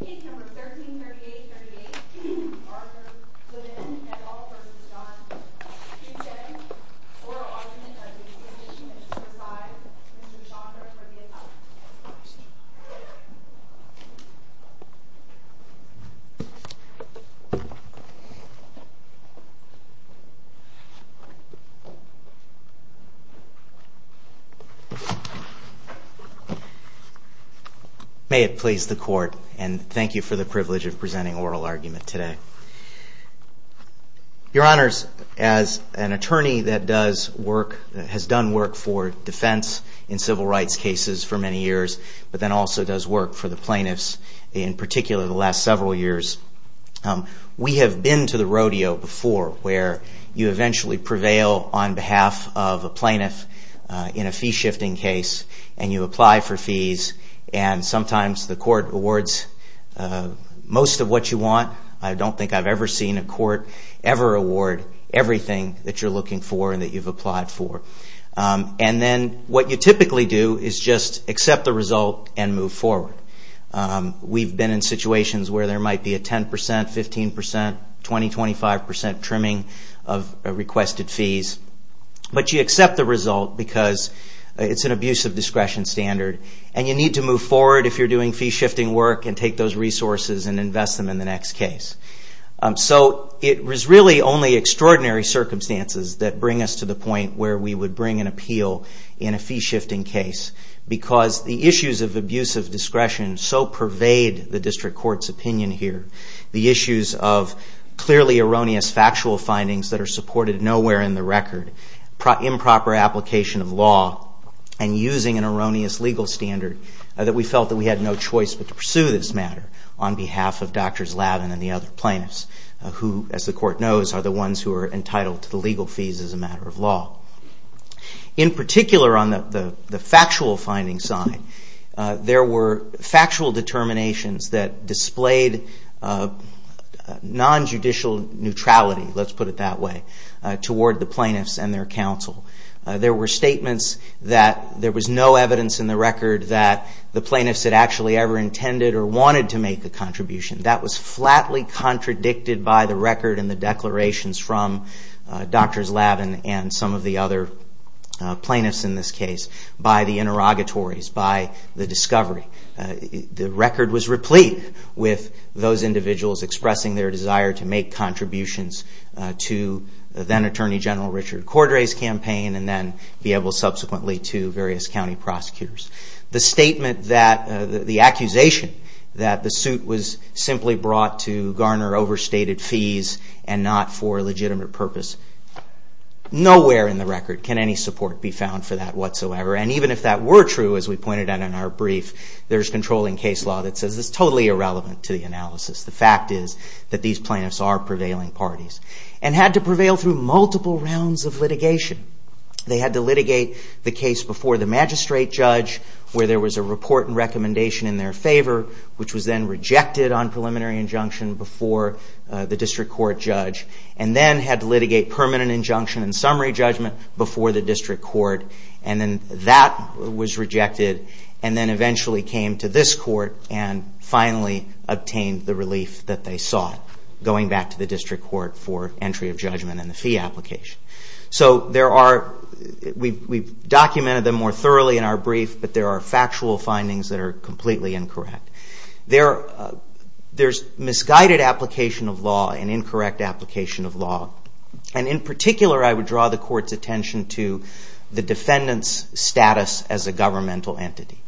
P. 1338-38 Arthur Lavin, et al. v. Jon Husted, Q.J. Oral Argument of the Exhibition and Preside, Mr. Jon Husted, for the Apostolate. May it please the Court, and thank you for the privilege of presenting Oral Argument today. Your Honors, as an attorney that has done work for defense in civil rights cases for many years, but then also does work for the plaintiffs in particular the last several years, we have been to the rodeo before where you eventually prevail on behalf of a plaintiff in a fee-shifting case and you apply for fees, and sometimes the Court awards most of what you want. I don't think I've ever seen a Court ever award everything that you're looking for and that you've applied for. And then what you typically do is just accept the result and move forward. We've been in situations where there might be a 10%, 15%, 20%, 25% trimming of requested fees. But you accept the result because it's an abuse of discretion standard and you need to move forward if you're doing fee-shifting work and take those resources and invest them in the next case. So it was really only extraordinary circumstances that bring us to the point where we would bring an appeal in a fee-shifting case because the issues of abuse of discretion so pervade the District Court's opinion here, the issues of clearly erroneous factual findings that are supported nowhere in the record, improper application of law, and using an erroneous legal standard that we felt that we had no choice but to pursue this matter on behalf of Drs. Lavin and the other plaintiffs, who, as the Court knows, are the ones who are entitled to the legal fees as a matter of law. In particular, on the factual findings side, there were factual determinations that displayed non-judicial neutrality, let's put it that way, toward the plaintiffs and their counsel. There were statements that there was no evidence in the record that the plaintiffs had actually ever intended or wanted to make a contribution. That was flatly contradicted by the record and the declarations from Drs. Lavin and some of the other plaintiffs in this case, by the interrogatories, by the discovery. The record was replete with those individuals expressing their desire to make contributions to then-Attorney General Richard Cordray's campaign and then be able, subsequently, to various county prosecutors. The accusation that the suit was simply brought to garner overstated fees and not for a legitimate purpose, nowhere in the record can any support be found for that whatsoever. And even if that were true, as we pointed out in our brief, there's controlling case law that says it's totally irrelevant to the analysis. The fact is that these plaintiffs are prevailing parties and had to prevail through multiple rounds of litigation. They had to litigate the case before the magistrate judge, where there was a report and recommendation in their favor, which was then rejected on preliminary injunction before the district court judge, and then had to litigate permanent injunction and summary judgment before the district court, and then that was rejected and then eventually came to this court and finally obtained the relief that they sought, going back to the district court for entry of judgment and the fee application. So we've documented them more thoroughly in our brief, but there are factual findings that are completely incorrect. There's misguided application of law and incorrect application of law, and in particular I would draw the court's attention to the defendant's status as a governmental entity.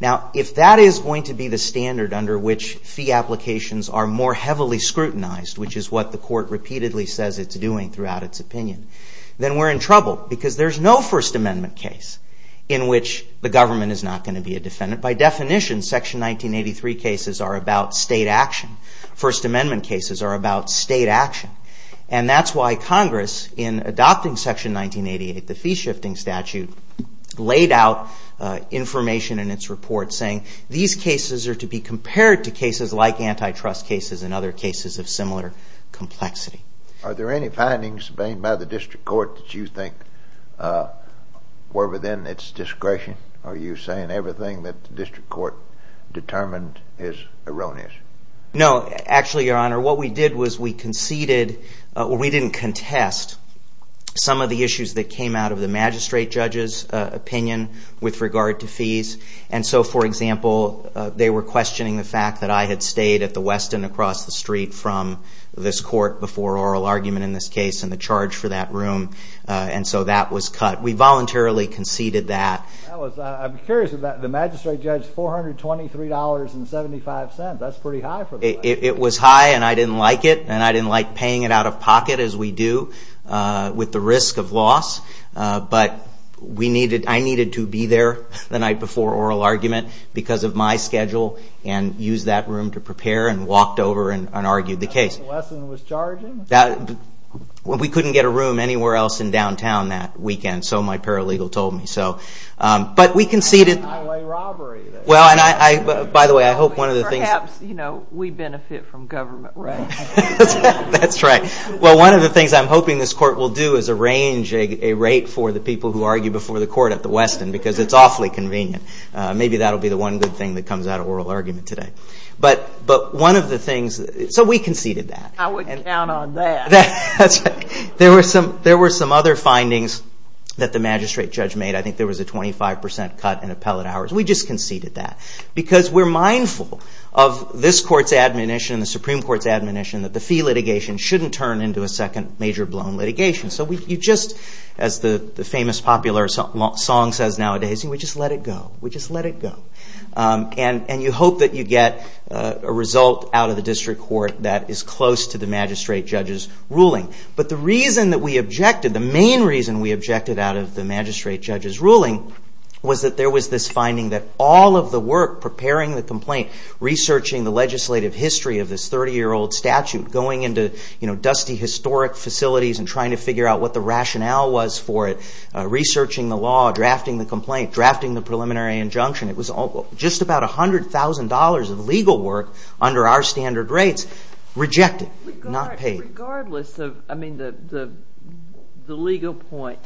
Now, if that is going to be the standard under which fee applications are more heavily scrutinized, which is what the court repeatedly says it's doing throughout its opinion, then we're in trouble because there's no First Amendment case in which the government is not going to be a defendant. By definition, Section 1983 cases are about state action. First Amendment cases are about state action. And that's why Congress, in adopting Section 1988, the fee shifting statute, laid out information in its report saying these cases are to be compared to cases like antitrust cases and other cases of similar complexity. Are there any findings made by the district court that you think were within its discretion? Are you saying everything that the district court determined is erroneous? No. Actually, Your Honor, what we did was we conceded, or we didn't contest, some of the issues that came out of the magistrate judge's opinion with regard to fees. And so, for example, they were questioning the fact that I had stayed at the Westin across the street from this court before oral argument in this case and the charge for that room, and so that was cut. We voluntarily conceded that. I'm curious about the magistrate judge's $423.75. That's pretty high for the magistrate. It was high, and I didn't like it, and I didn't like paying it out of pocket, as we do, with the risk of loss. But I needed to be there the night before oral argument because of my schedule and use that room to prepare and walked over and argued the case. The Westin was charging? We couldn't get a room anywhere else in downtown that weekend, so my paralegal told me so. But we conceded. Highway robbery. Well, and by the way, I hope one of the things... Perhaps, you know, we benefit from government rights. That's right. Well, one of the things I'm hoping this court will do is arrange a rate for the people who argue before the court at the Westin because it's awfully convenient. Maybe that will be the one good thing that comes out of oral argument today. But one of the things... So we conceded that. I would count on that. That's right. There were some other findings that the magistrate judge made. I think there was a 25% cut in appellate hours. We just conceded that because we're mindful of this court's admonition, the Supreme Court's admonition, that the fee litigation shouldn't turn into a second major-blown litigation. So we just, as the famous popular song says nowadays, we just let it go. We just let it go. And you hope that you get a result out of the district court that is close to the magistrate judge's ruling. But the reason that we objected, the main reason we objected out of the magistrate judge's ruling, was that there was this finding that all of the work preparing the complaint, researching the legislative history of this 30-year-old statute, going into dusty historic facilities and trying to figure out what the rationale was for it, researching the law, drafting the complaint, drafting the preliminary injunction, it was just about $100,000 of legal work under our standard rates rejected, not paid. Regardless of, I mean, the legal point,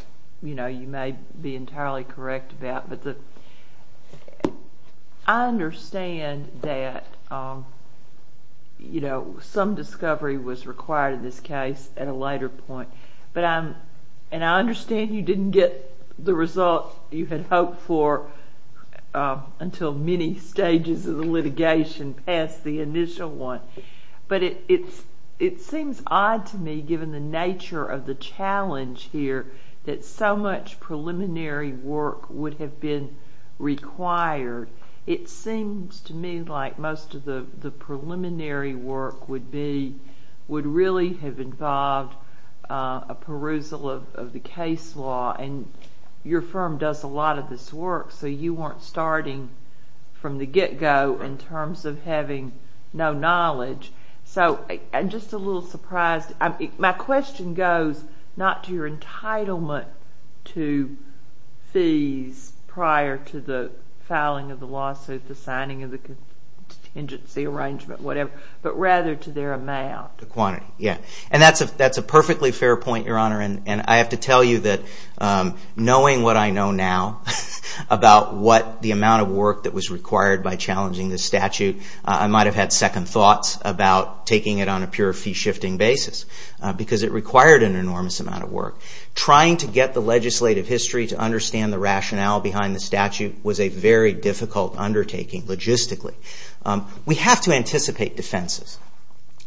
you know, you may be entirely correct about, but I understand that, you know, some discovery was required in this case at a later point. But I'm, and I understand you didn't get the result you had hoped for until many stages of the litigation passed the initial one. But it seems odd to me, given the nature of the challenge here, that so much preliminary work would have been required. It seems to me like most of the preliminary work would be, would really have involved a perusal of the case law. And your firm does a lot of this work, so you weren't starting from the get-go in terms of having no knowledge. So I'm just a little surprised. My question goes not to your entitlement to fees prior to the filing of the lawsuit, the signing of the contingency arrangement, whatever, but rather to their amount. The quantity, yeah. And that's a perfectly fair point, Your Honor, and I have to tell you that knowing what I know now about what the amount of work that was required by challenging the statute, I might have had second thoughts about taking it on a pure fee-shifting basis because it required an enormous amount of work. Trying to get the legislative history to understand the rationale behind the statute was a very difficult undertaking logistically. We have to anticipate defenses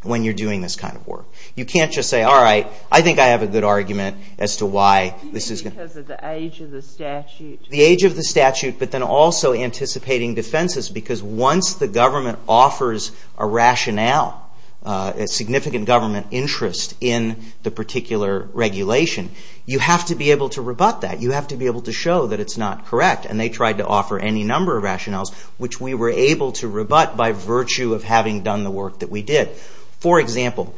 when you're doing this kind of work. You can't just say, all right, I think I have a good argument as to why this is going to... Even because of the age of the statute? The age of the statute, but then also anticipating defenses because once the government offers a rationale, a significant government interest in the particular regulation, you have to be able to rebut that. You have to be able to show that it's not correct, and they tried to offer any number of rationales, which we were able to rebut by virtue of having done the work that we did. For example,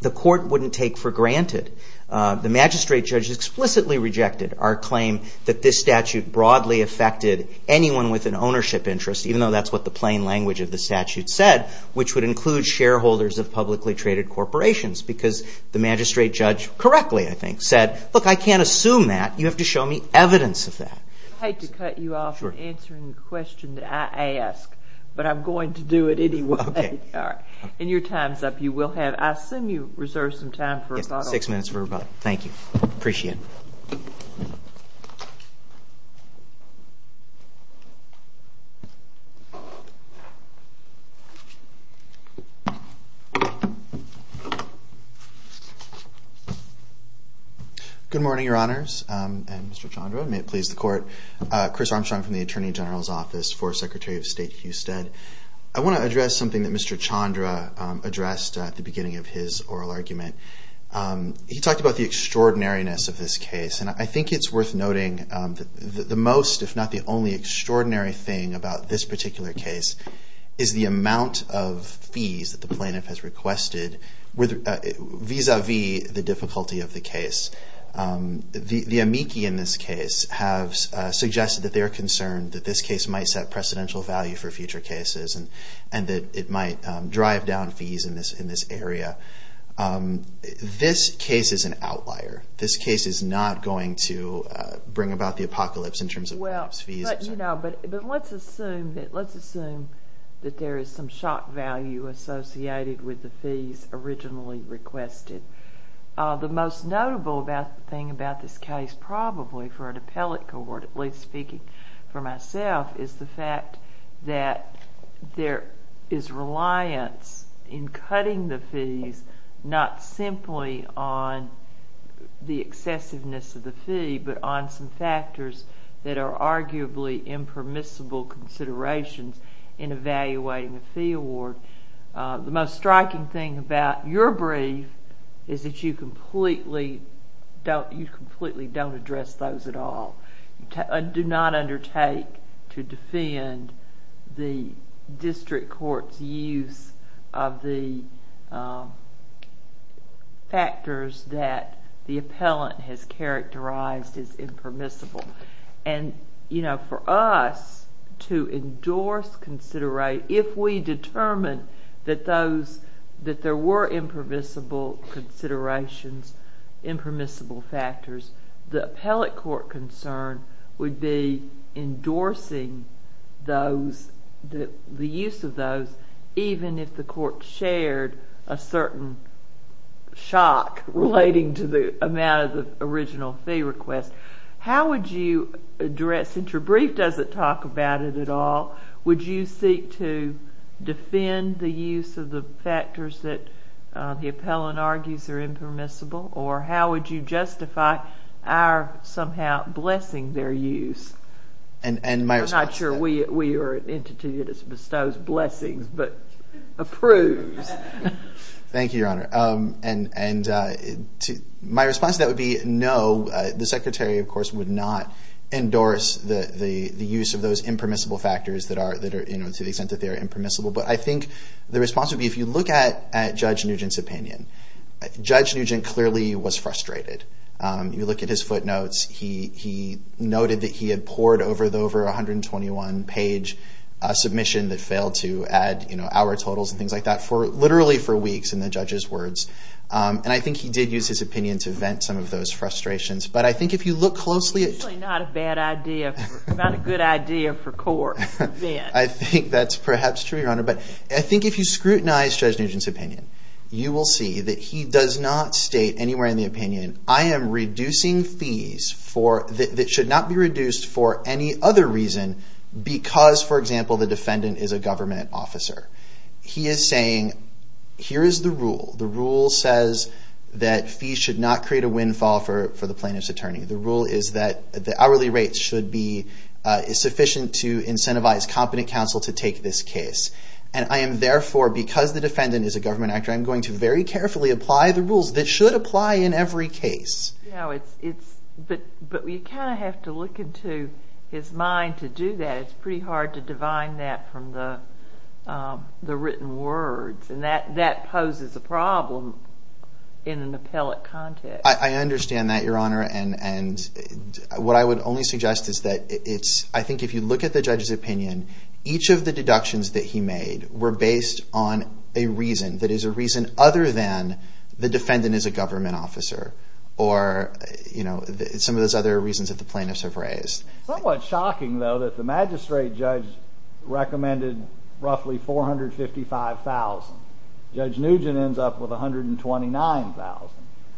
the court wouldn't take for granted, the magistrate judge explicitly rejected our claim that this statute broadly affected anyone with an ownership interest, even though that's what the plain language of the statute said, which would include shareholders of publicly traded corporations because the magistrate judge correctly, I think, said, look, I can't assume that. You have to show me evidence of that. I hate to cut you off from answering the question that I ask, but I'm going to do it anyway. Okay. All right. And your time's up. I assume you reserved some time for rebuttal. Yes, six minutes for rebuttal. Thank you. Appreciate it. Thank you. Good morning, Your Honors and Mr. Chandra, and may it please the court. Chris Armstrong from the Attorney General's Office for Secretary of State Husted. I want to address something that Mr. Chandra addressed at the beginning of his oral argument. He talked about the extraordinariness of this case, and I think it's worth noting that the most, if not the only, extraordinary thing about this particular case is the amount of fees that the plaintiff has requested vis-a-vis the difficulty of the case. The amici in this case have suggested that they are concerned that this case might set precedential value for future cases and that it might drive down fees in this area. This case is an outlier. This case is not going to bring about the apocalypse in terms of the plaintiff's fees. But let's assume that there is some shock value associated with the fees originally requested. The most notable thing about this case probably for an appellate court, at least speaking for myself, is the fact that there is reliance in cutting the fees not simply on the excessiveness of the fee but on some factors that are arguably impermissible considerations in evaluating a fee award. The most striking thing about your brief is that you completely don't address those at all. You do not undertake to defend the district court's use of the factors that the appellant has characterized as impermissible. And for us to endorse, considerate, if we determine that there were impermissible considerations, impermissible factors, the appellate court concern would be endorsing the use of those even if the court shared a certain shock relating to the amount of the original fee request. How would you address, since your brief doesn't talk about it at all, would you seek to defend the use of the factors that the appellant argues are impermissible or how would you justify our somehow blessing their use? I'm not sure we are an entity that bestows blessings but approves. Thank you, Your Honor. My response to that would be no. The Secretary, of course, would not endorse the use of those impermissible factors to the extent that they are impermissible. But I think the response would be if you look at Judge Nugent's opinion, Judge Nugent clearly was frustrated. You look at his footnotes. He noted that he had poured over the over 121-page submission that failed to add, you know, hour totals and things like that literally for weeks in the judge's words. And I think he did use his opinion to vent some of those frustrations. But I think if you look closely at... It's usually not a bad idea, not a good idea for court to vent. I think that's perhaps true, Your Honor. But I think if you scrutinize Judge Nugent's opinion, you will see that he does not state anywhere in the opinion, I am reducing fees that should not be reduced for any other reason because, for example, the defendant is a government officer. He is saying, here is the rule. The rule says that fees should not create a windfall for the plaintiff's attorney. The rule is that the hourly rate should be sufficient to incentivize competent counsel to take this case. And I am therefore, because the defendant is a government actor, I am going to very carefully apply the rules that should apply in every case. But you kind of have to look into his mind to do that. It's pretty hard to divine that from the written words. And that poses a problem in an appellate context. I understand that, Your Honor. And what I would only suggest is that it's... I think if you look at the judge's opinion, each of the deductions that he made were based on a reason that is a reason other than the defendant is a government officer or some of those other reasons that the plaintiffs have raised. It's somewhat shocking, though, that the magistrate judge recommended roughly $455,000. Judge Nugent ends up with $129,000.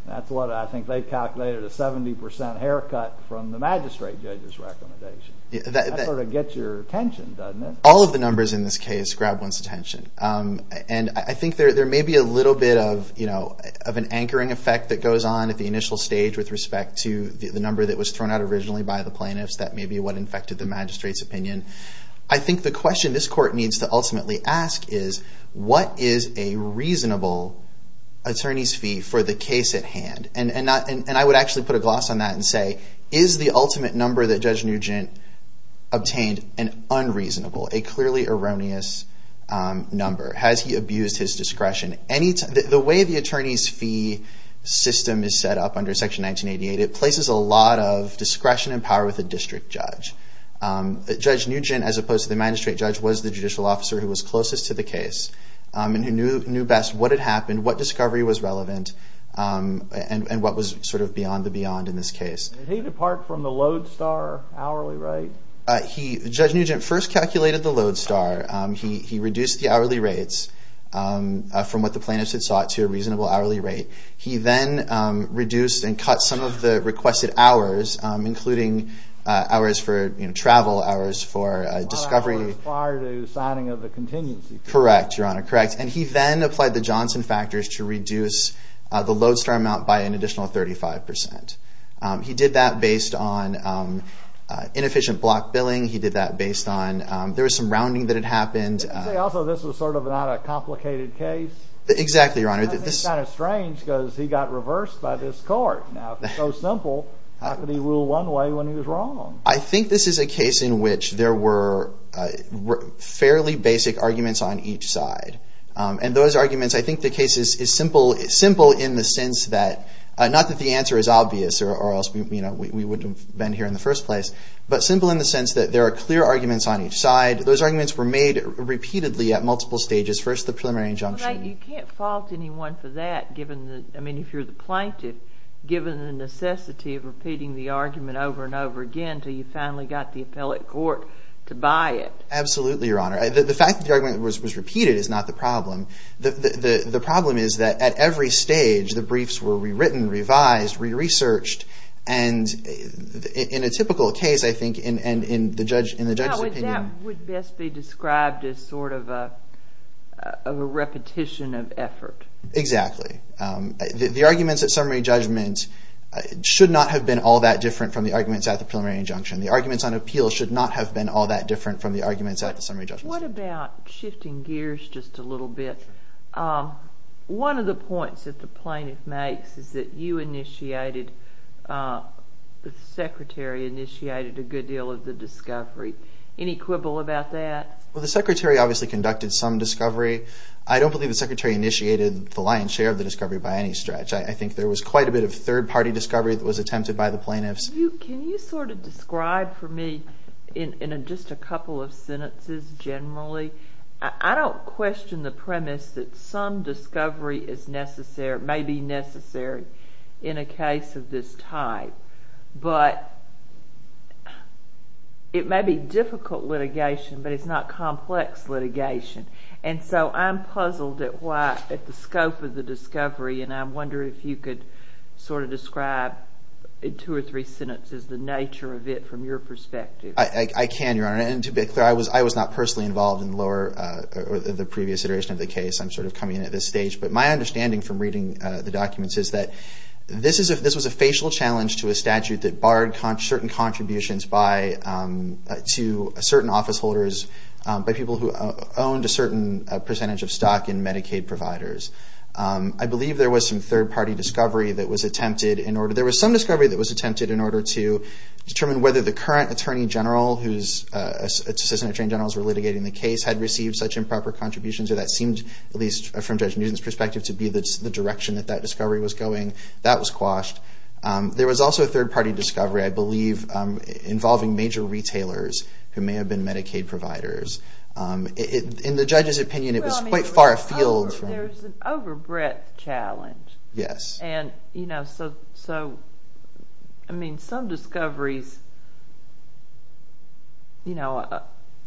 That's what I think they calculated, a 70% haircut from the magistrate judge's recommendation. That sort of gets your attention, doesn't it? All of the numbers in this case grab one's attention. And I think there may be a little bit of an anchoring effect that goes on at the initial stage with respect to the number that was thrown out originally by the plaintiffs that may be what infected the magistrate's opinion. I think the question this court needs to ultimately ask is what is a reasonable attorney's fee for the case at hand? And I would actually put a gloss on that and say, is the ultimate number that Judge Nugent obtained an unreasonable, a clearly erroneous number? Has he abused his discretion? The way the attorney's fee system is set up under Section 1988, it places a lot of discretion and power with the district judge. Judge Nugent, as opposed to the magistrate judge, was the judicial officer who was closest to the case and who knew best what had happened, what discovery was relevant, and what was sort of beyond the beyond in this case. Did he depart from the Lodestar hourly rate? Judge Nugent first calculated the Lodestar. He reduced the hourly rates from what the plaintiffs had sought to a reasonable hourly rate. He then reduced and cut some of the requested hours, including hours for travel, hours for discovery. Hours prior to signing of the contingency plan. Correct, Your Honor. Correct. And he then applied the Johnson factors to reduce the Lodestar amount by an additional 35%. He did that based on inefficient block billing. He did that based on there was some rounding that had happened. Also, this was sort of not a complicated case. Exactly, Your Honor. It's kind of strange because he got reversed by this court. Now, if it's so simple, how could he rule one way when he was wrong? I think this is a case in which there were fairly basic arguments on each side. And those arguments, I think the case is simple in the sense that, not that the answer is obvious or else we wouldn't have been here in the first place, but simple in the sense that there are clear arguments on each side. Those arguments were made repeatedly at multiple stages. First, the preliminary injunction. You can't fault anyone for that, I mean, if you're the plaintiff, given the necessity of repeating the argument over and over again until you finally got the appellate court to buy it. Absolutely, Your Honor. The fact that the argument was repeated is not the problem. The problem is that at every stage, the briefs were rewritten, revised, re-researched, and in a typical case, I think, in the judge's opinion. That would best be described as sort of a repetition of effort. Exactly. The arguments at summary judgment should not have been all that different from the arguments at the preliminary injunction. The arguments on appeal should not have been all that different from the arguments at the summary judgment. What about shifting gears just a little bit? One of the points that the plaintiff makes is that you initiated, the Secretary initiated a good deal of the discovery. Any quibble about that? Well, the Secretary obviously conducted some discovery. I don't believe the Secretary initiated the lion's share of the discovery by any stretch. I think there was quite a bit of third-party discovery that was attempted by the plaintiffs. Can you sort of describe for me, in just a couple of sentences generally, I don't question the premise that some discovery is necessary, may be necessary in a case of this type, but it may be difficult litigation, but it's not complex litigation. And so I'm puzzled at the scope of the discovery, and I'm wondering if you could sort of describe in two or three sentences the nature of it from your perspective. I can, Your Honor. And to be clear, I was not personally involved in the previous iteration of the case. I'm sort of coming in at this stage. But my understanding from reading the documents is that this was a facial challenge to a statute that barred certain contributions to certain officeholders by people who owned a certain percentage of stock in Medicaid providers. I believe there was some third-party discovery that was attempted in order to, there was some discovery that was attempted in order to determine whether the current Attorney General, whose Assistant Attorney Generals were litigating the case, had received such improper contributions, or that seemed, at least from Judge Newton's perspective, to be the direction that that discovery was going. That was quashed. There was also a third-party discovery, I believe, involving major retailers who may have been Medicaid providers. In the judge's opinion, it was quite far afield. Well, I mean, there's an over-breadth challenge. Yes. And, you know, so, I mean, some discoveries, you know,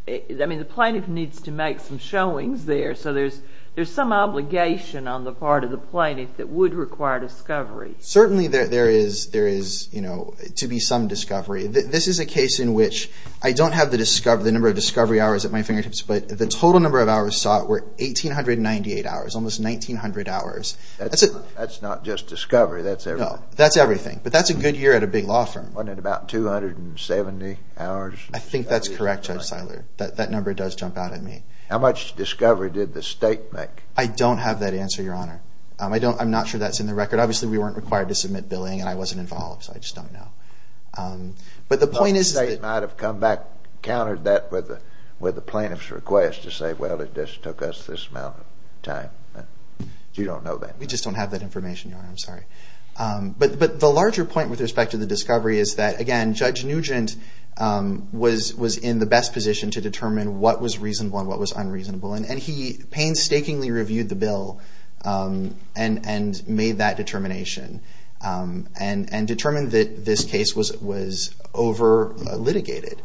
I mean, the plaintiff needs to make some showings there, so there's some obligation on the part of the plaintiff that would require discovery. Certainly there is, you know, to be some discovery. This is a case in which I don't have the number of discovery hours at my fingertips, but the total number of hours sought were 1,898 hours, almost 1,900 hours. That's not just discovery, that's everything. No, that's everything, but that's a good year at a big law firm. Wasn't it about 270 hours? I think that's correct, Judge Seiler. That number does jump out at me. How much discovery did the state make? I don't have that answer, Your Honor. I'm not sure that's in the record. Obviously we weren't required to submit billing, and I wasn't involved, so I just don't know. But the point is that the state might have come back, countered that with the plaintiff's request to say, well, it just took us this amount of time. You don't know that. We just don't have that information, Your Honor. I'm sorry. But the larger point with respect to the discovery is that, again, Judge Nugent was in the best position to determine what was reasonable and what was unreasonable, and he painstakingly reviewed the bill and made that determination and determined that this case was over-litigated.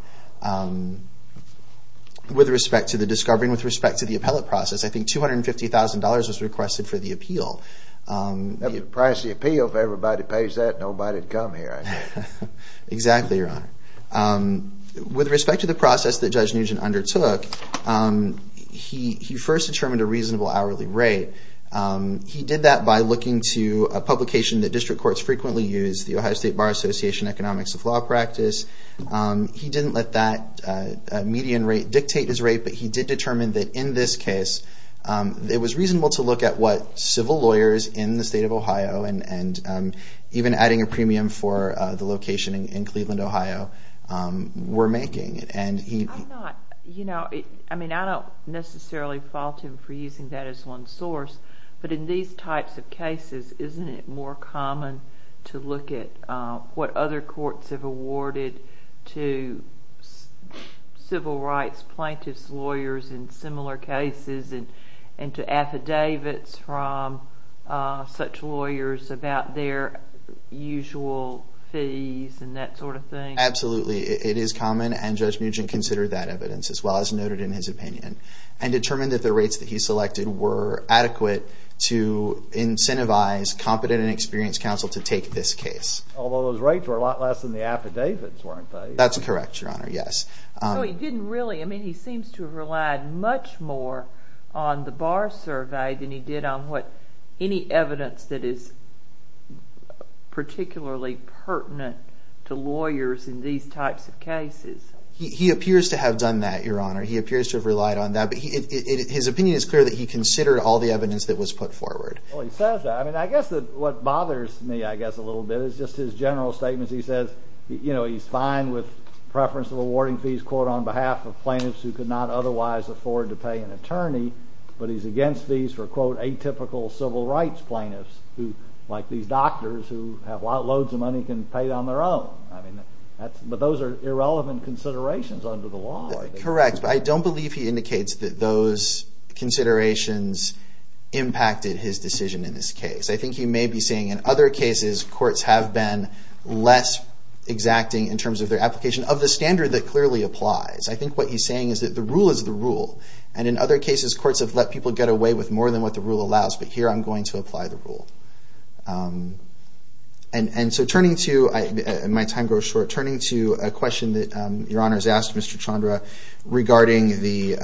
With respect to the discovery and with respect to the appellate process, I think $250,000 was requested for the appeal. That's the price of the appeal. If everybody pays that, nobody would come here, I think. Exactly, Your Honor. With respect to the process that Judge Nugent undertook, he first determined a reasonable hourly rate. He did that by looking to a publication that district courts frequently use, the Ohio State Bar Association Economics of Law Practice. He didn't let that median rate dictate his rate, but he did determine that in this case, it was reasonable to look at what civil lawyers in the state of Ohio and even adding a premium for the location in Cleveland, Ohio, were making. I don't necessarily fault him for using that as one source, but in these types of cases, isn't it more common to look at what other courts have awarded to civil rights plaintiffs' lawyers in similar cases and to affidavits from such lawyers about their usual fees and that sort of thing? Absolutely. It is common, and Judge Nugent considered that evidence, as well as noted in his opinion, and determined that the rates that he selected were adequate to incentivize competent and experienced counsel to take this case. Although those rates were a lot less than the affidavits, weren't they? That's correct, Your Honor, yes. He seems to have relied much more on the Bar Survey than he did on any evidence that is particularly pertinent to lawyers in these types of cases. He appears to have done that, Your Honor. He appears to have relied on that, but his opinion is clear that he considered all the evidence that was put forward. Well, he says that. I guess what bothers me a little bit is just his general statements. He says, you know, he's fine with preference of awarding fees, quote, on behalf of plaintiffs who could not otherwise afford to pay an attorney, but he's against fees for, quote, atypical civil rights plaintiffs, like these doctors who have loads of money can pay on their own. But those are irrelevant considerations under the law. Correct, but I don't believe he indicates that those considerations impacted his decision in this case. I think he may be saying in other cases courts have been less exacting in terms of their application of the standard that clearly applies. I think what he's saying is that the rule is the rule, and in other cases courts have let people get away with more than what the rule allows, but here I'm going to apply the rule. And so turning to, my time grows short, turning to a question that Your Honor has asked Mr. Chandra regarding the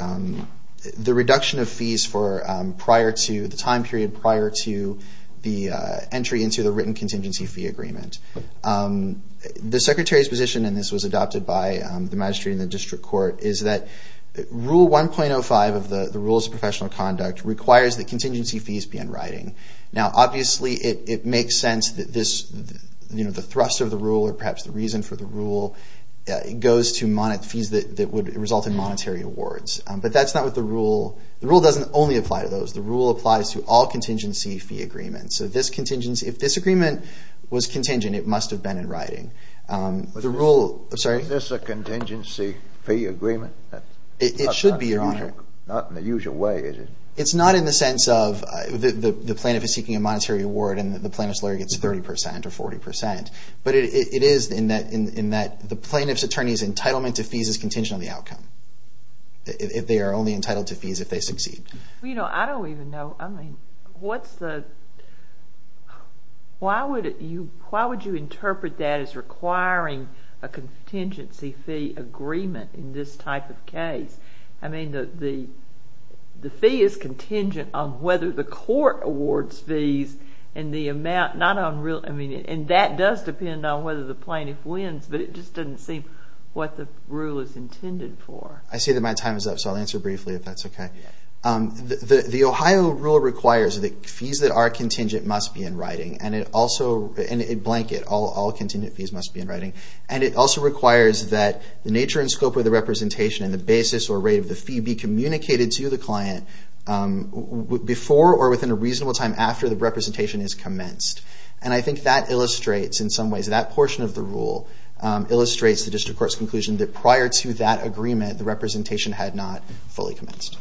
reduction of fees for prior to, the time period prior to the entry into the written contingency fee agreement. The Secretary's position, and this was adopted by the magistrate and the district court, is that Rule 1.05 of the Rules of Professional Conduct requires that contingency fees be in writing. Now, obviously it makes sense that this, you know, the thrust of the rule or perhaps the reason for the rule goes to fees that would result in monetary awards. But that's not what the rule, the rule doesn't only apply to those. The rule applies to all contingency fee agreements. So this contingency, if this agreement was contingent, it must have been in writing. Is this a contingency fee agreement? It should be, Your Honor. Not in the usual way, is it? It's not in the sense of the plaintiff is seeking a monetary award and the plaintiff's lawyer gets 30 percent or 40 percent. But it is in that the plaintiff's attorney's entitlement to fees is contingent on the outcome. They are only entitled to fees if they succeed. You know, I don't even know, I mean, what's the, why would you interpret that as requiring a contingency fee agreement in this type of case? I mean, the fee is contingent on whether the court awards fees and the amount, not on real, I mean, and that does depend on whether the plaintiff wins, but it just doesn't seem what the rule is intended for. I see that my time is up, so I'll answer briefly if that's okay. The Ohio rule requires that fees that are contingent must be in writing, and it also, and blanket, all contingent fees must be in writing. And it also requires that the nature and scope of the representation and the basis or rate of the fee be communicated to the client before or within a reasonable time after the representation is commenced. And I think that illustrates, in some ways, that portion of the rule illustrates the District Court's conclusion that prior to that agreement, the representation had not fully commenced.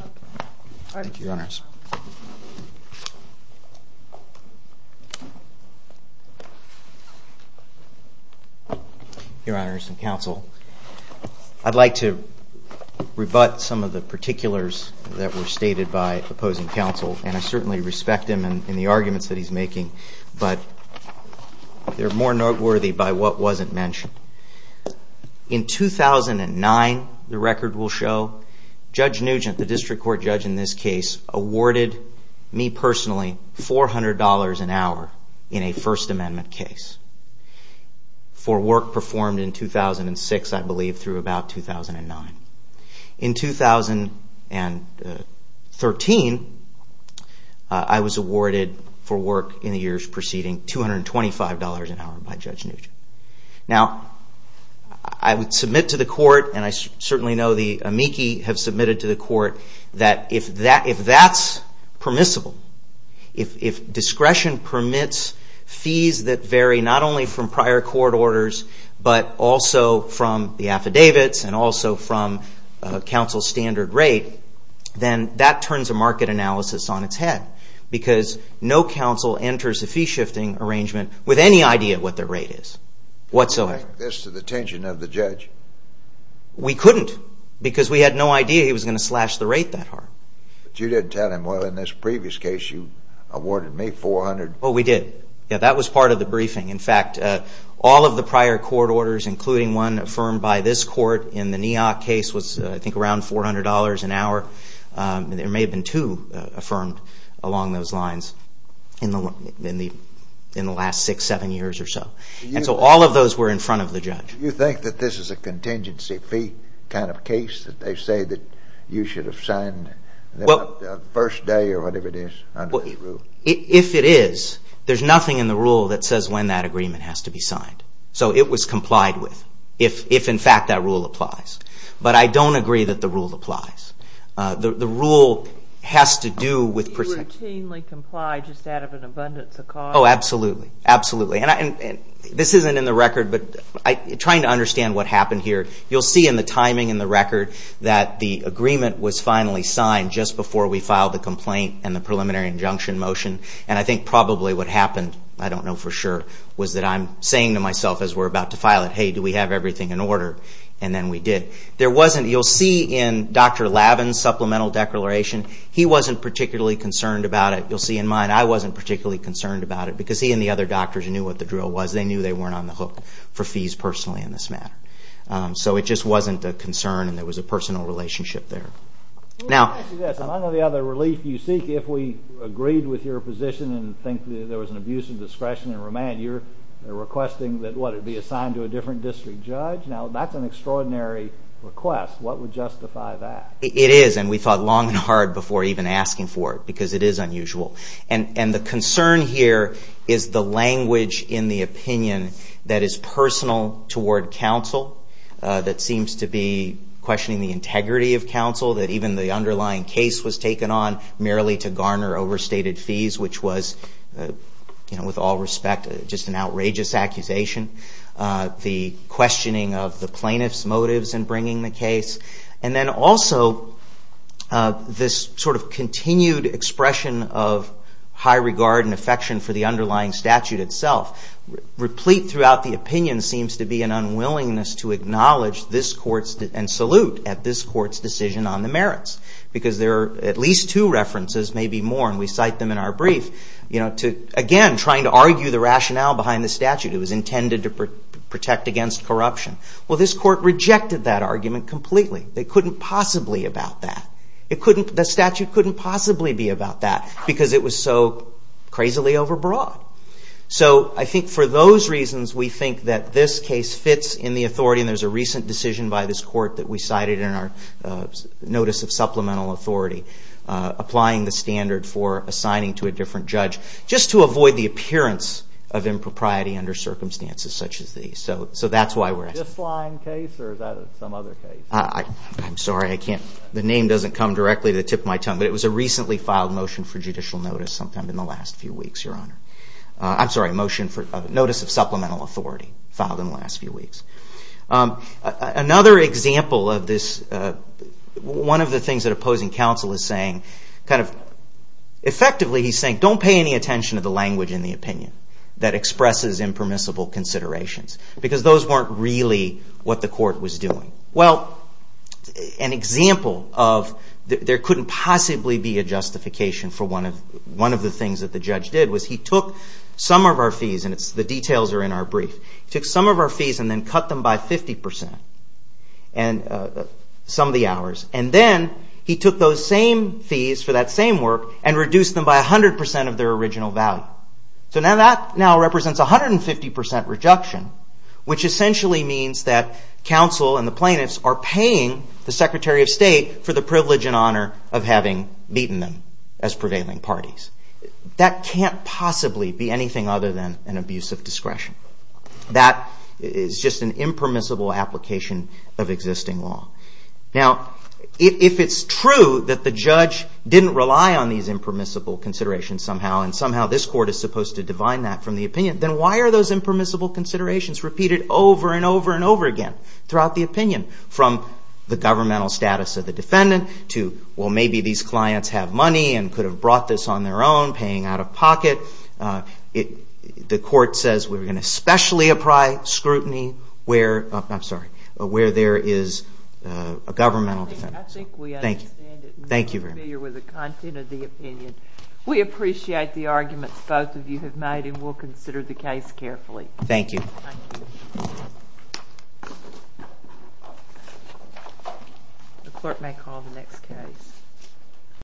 Thank you, Your Honors. Your Honors and Counsel, I'd like to rebut some of the particulars that were stated by opposing counsel, and I certainly respect him and the arguments that he's making, but they're more noteworthy by what wasn't mentioned. In 2009, the record will show, Judge Nugent, the District Court judge in this case, awarded me personally $400 an hour in a First Amendment case for work performed in 2006, I believe, through about 2009. In 2013, I was awarded for work in the years preceding $225 an hour by Judge Nugent. Now, I would submit to the Court, and I certainly know the amici have submitted to the Court, that if that's permissible, if discretion permits fees that vary not only from prior court orders, but also from the affidavits, and also from counsel's standard rate, then that turns a market analysis on its head, because no counsel enters a fee-shifting arrangement with any idea what their rate is, whatsoever. You can link this to the tension of the judge. We couldn't, because we had no idea he was going to slash the rate that hard. But you did tell him, well, in this previous case, you awarded me $400. Oh, we did. Yeah, that was part of the briefing. In fact, all of the prior court orders, including one affirmed by this Court in the Neoc case, was, I think, around $400 an hour. There may have been two affirmed along those lines in the last six, seven years or so. And so all of those were in front of the judge. Do you think that this is a contingency fee kind of case, that they say that you should have signed the first day, or whatever it is, under this rule? If it is, there's nothing in the rule that says when that agreement has to be signed. So it was complied with, if in fact that rule applies. But I don't agree that the rule applies. The rule has to do with percentage. Do you routinely comply just out of an abundance of cost? Oh, absolutely. Absolutely. And this isn't in the record, but I'm trying to understand what happened here. You'll see in the timing in the record that the agreement was finally signed just before we filed the complaint and the preliminary injunction motion. And I think probably what happened, I don't know for sure, was that I'm saying to myself as we're about to file it, hey, do we have everything in order? And then we did. You'll see in Dr. Lavin's supplemental declaration, he wasn't particularly concerned about it. You'll see in mine, I wasn't particularly concerned about it, because he and the other doctors knew what the drill was. They knew they weren't on the hook for fees personally in this matter. So it just wasn't a concern, and there was a personal relationship there. I know the other relief you seek, if we agreed with your position and think that there was an abuse of discretion and remand, you're requesting that, what, it be assigned to a different district judge? Now, that's an extraordinary request. What would justify that? It is, and we thought long and hard before even asking for it, because it is unusual. And the concern here is the language in the opinion that is personal toward counsel that seems to be questioning the integrity of counsel, that even the underlying case was taken on merely to garner overstated fees, which was, with all respect, just an outrageous accusation. The questioning of the plaintiff's motives in bringing the case, and then also this sort of continued expression of high regard and affection for the underlying statute itself. Replete throughout the opinion seems to be an unwillingness to acknowledge and salute at this court's decision on the merits, because there are at least two references, maybe more, and we cite them in our brief, again, trying to argue the rationale behind the statute. It was intended to protect against corruption. Well, this court rejected that argument completely. They couldn't possibly about that. The statute couldn't possibly be about that, because it was so crazily overbroad. So I think for those reasons, we think that this case fits in the authority, and there's a recent decision by this court that we cited in our notice of supplemental authority, applying the standard for assigning to a different judge, just to avoid the appearance of impropriety under circumstances such as these. So that's why we're asking. This lying case, or is that some other case? I'm sorry. I can't. The name doesn't come directly to the tip of my tongue, but it was a recently filed motion for judicial notice sometime in the last few weeks, Your Honor. I'm sorry, motion for notice of supplemental authority, filed in the last few weeks. Another example of this, one of the things that opposing counsel is saying, kind of effectively he's saying, don't pay any attention to the language in the opinion that expresses impermissible considerations, because those weren't really what the court was doing. Well, an example of there couldn't possibly be a justification for one of the things that the judge did was he took some of our fees, and the details are in our brief, he took some of our fees and then cut them by 50 percent, some of the hours, and then he took those same fees for that same work and reduced them by 100 percent of their original value. So now that represents 150 percent reduction, which essentially means that counsel and the plaintiffs are paying the Secretary of State for the privilege and honor of having beaten them as prevailing parties. That can't possibly be anything other than an abuse of discretion. That is just an impermissible application of existing law. Now, if it's true that the judge didn't rely on these impermissible considerations somehow, and somehow this court is supposed to divine that from the opinion, then why are those impermissible considerations repeated over and over and over again throughout the opinion from the governmental status of the defendant to, well, maybe these clients have money and could have brought this on their own, paying out of pocket. The court says we're going to specially apply scrutiny where there is a governmental defense. I think we understand it and we're familiar with the content of the opinion. We appreciate the arguments both of you have made and we'll consider the case carefully. Thank you. The court may call the next case.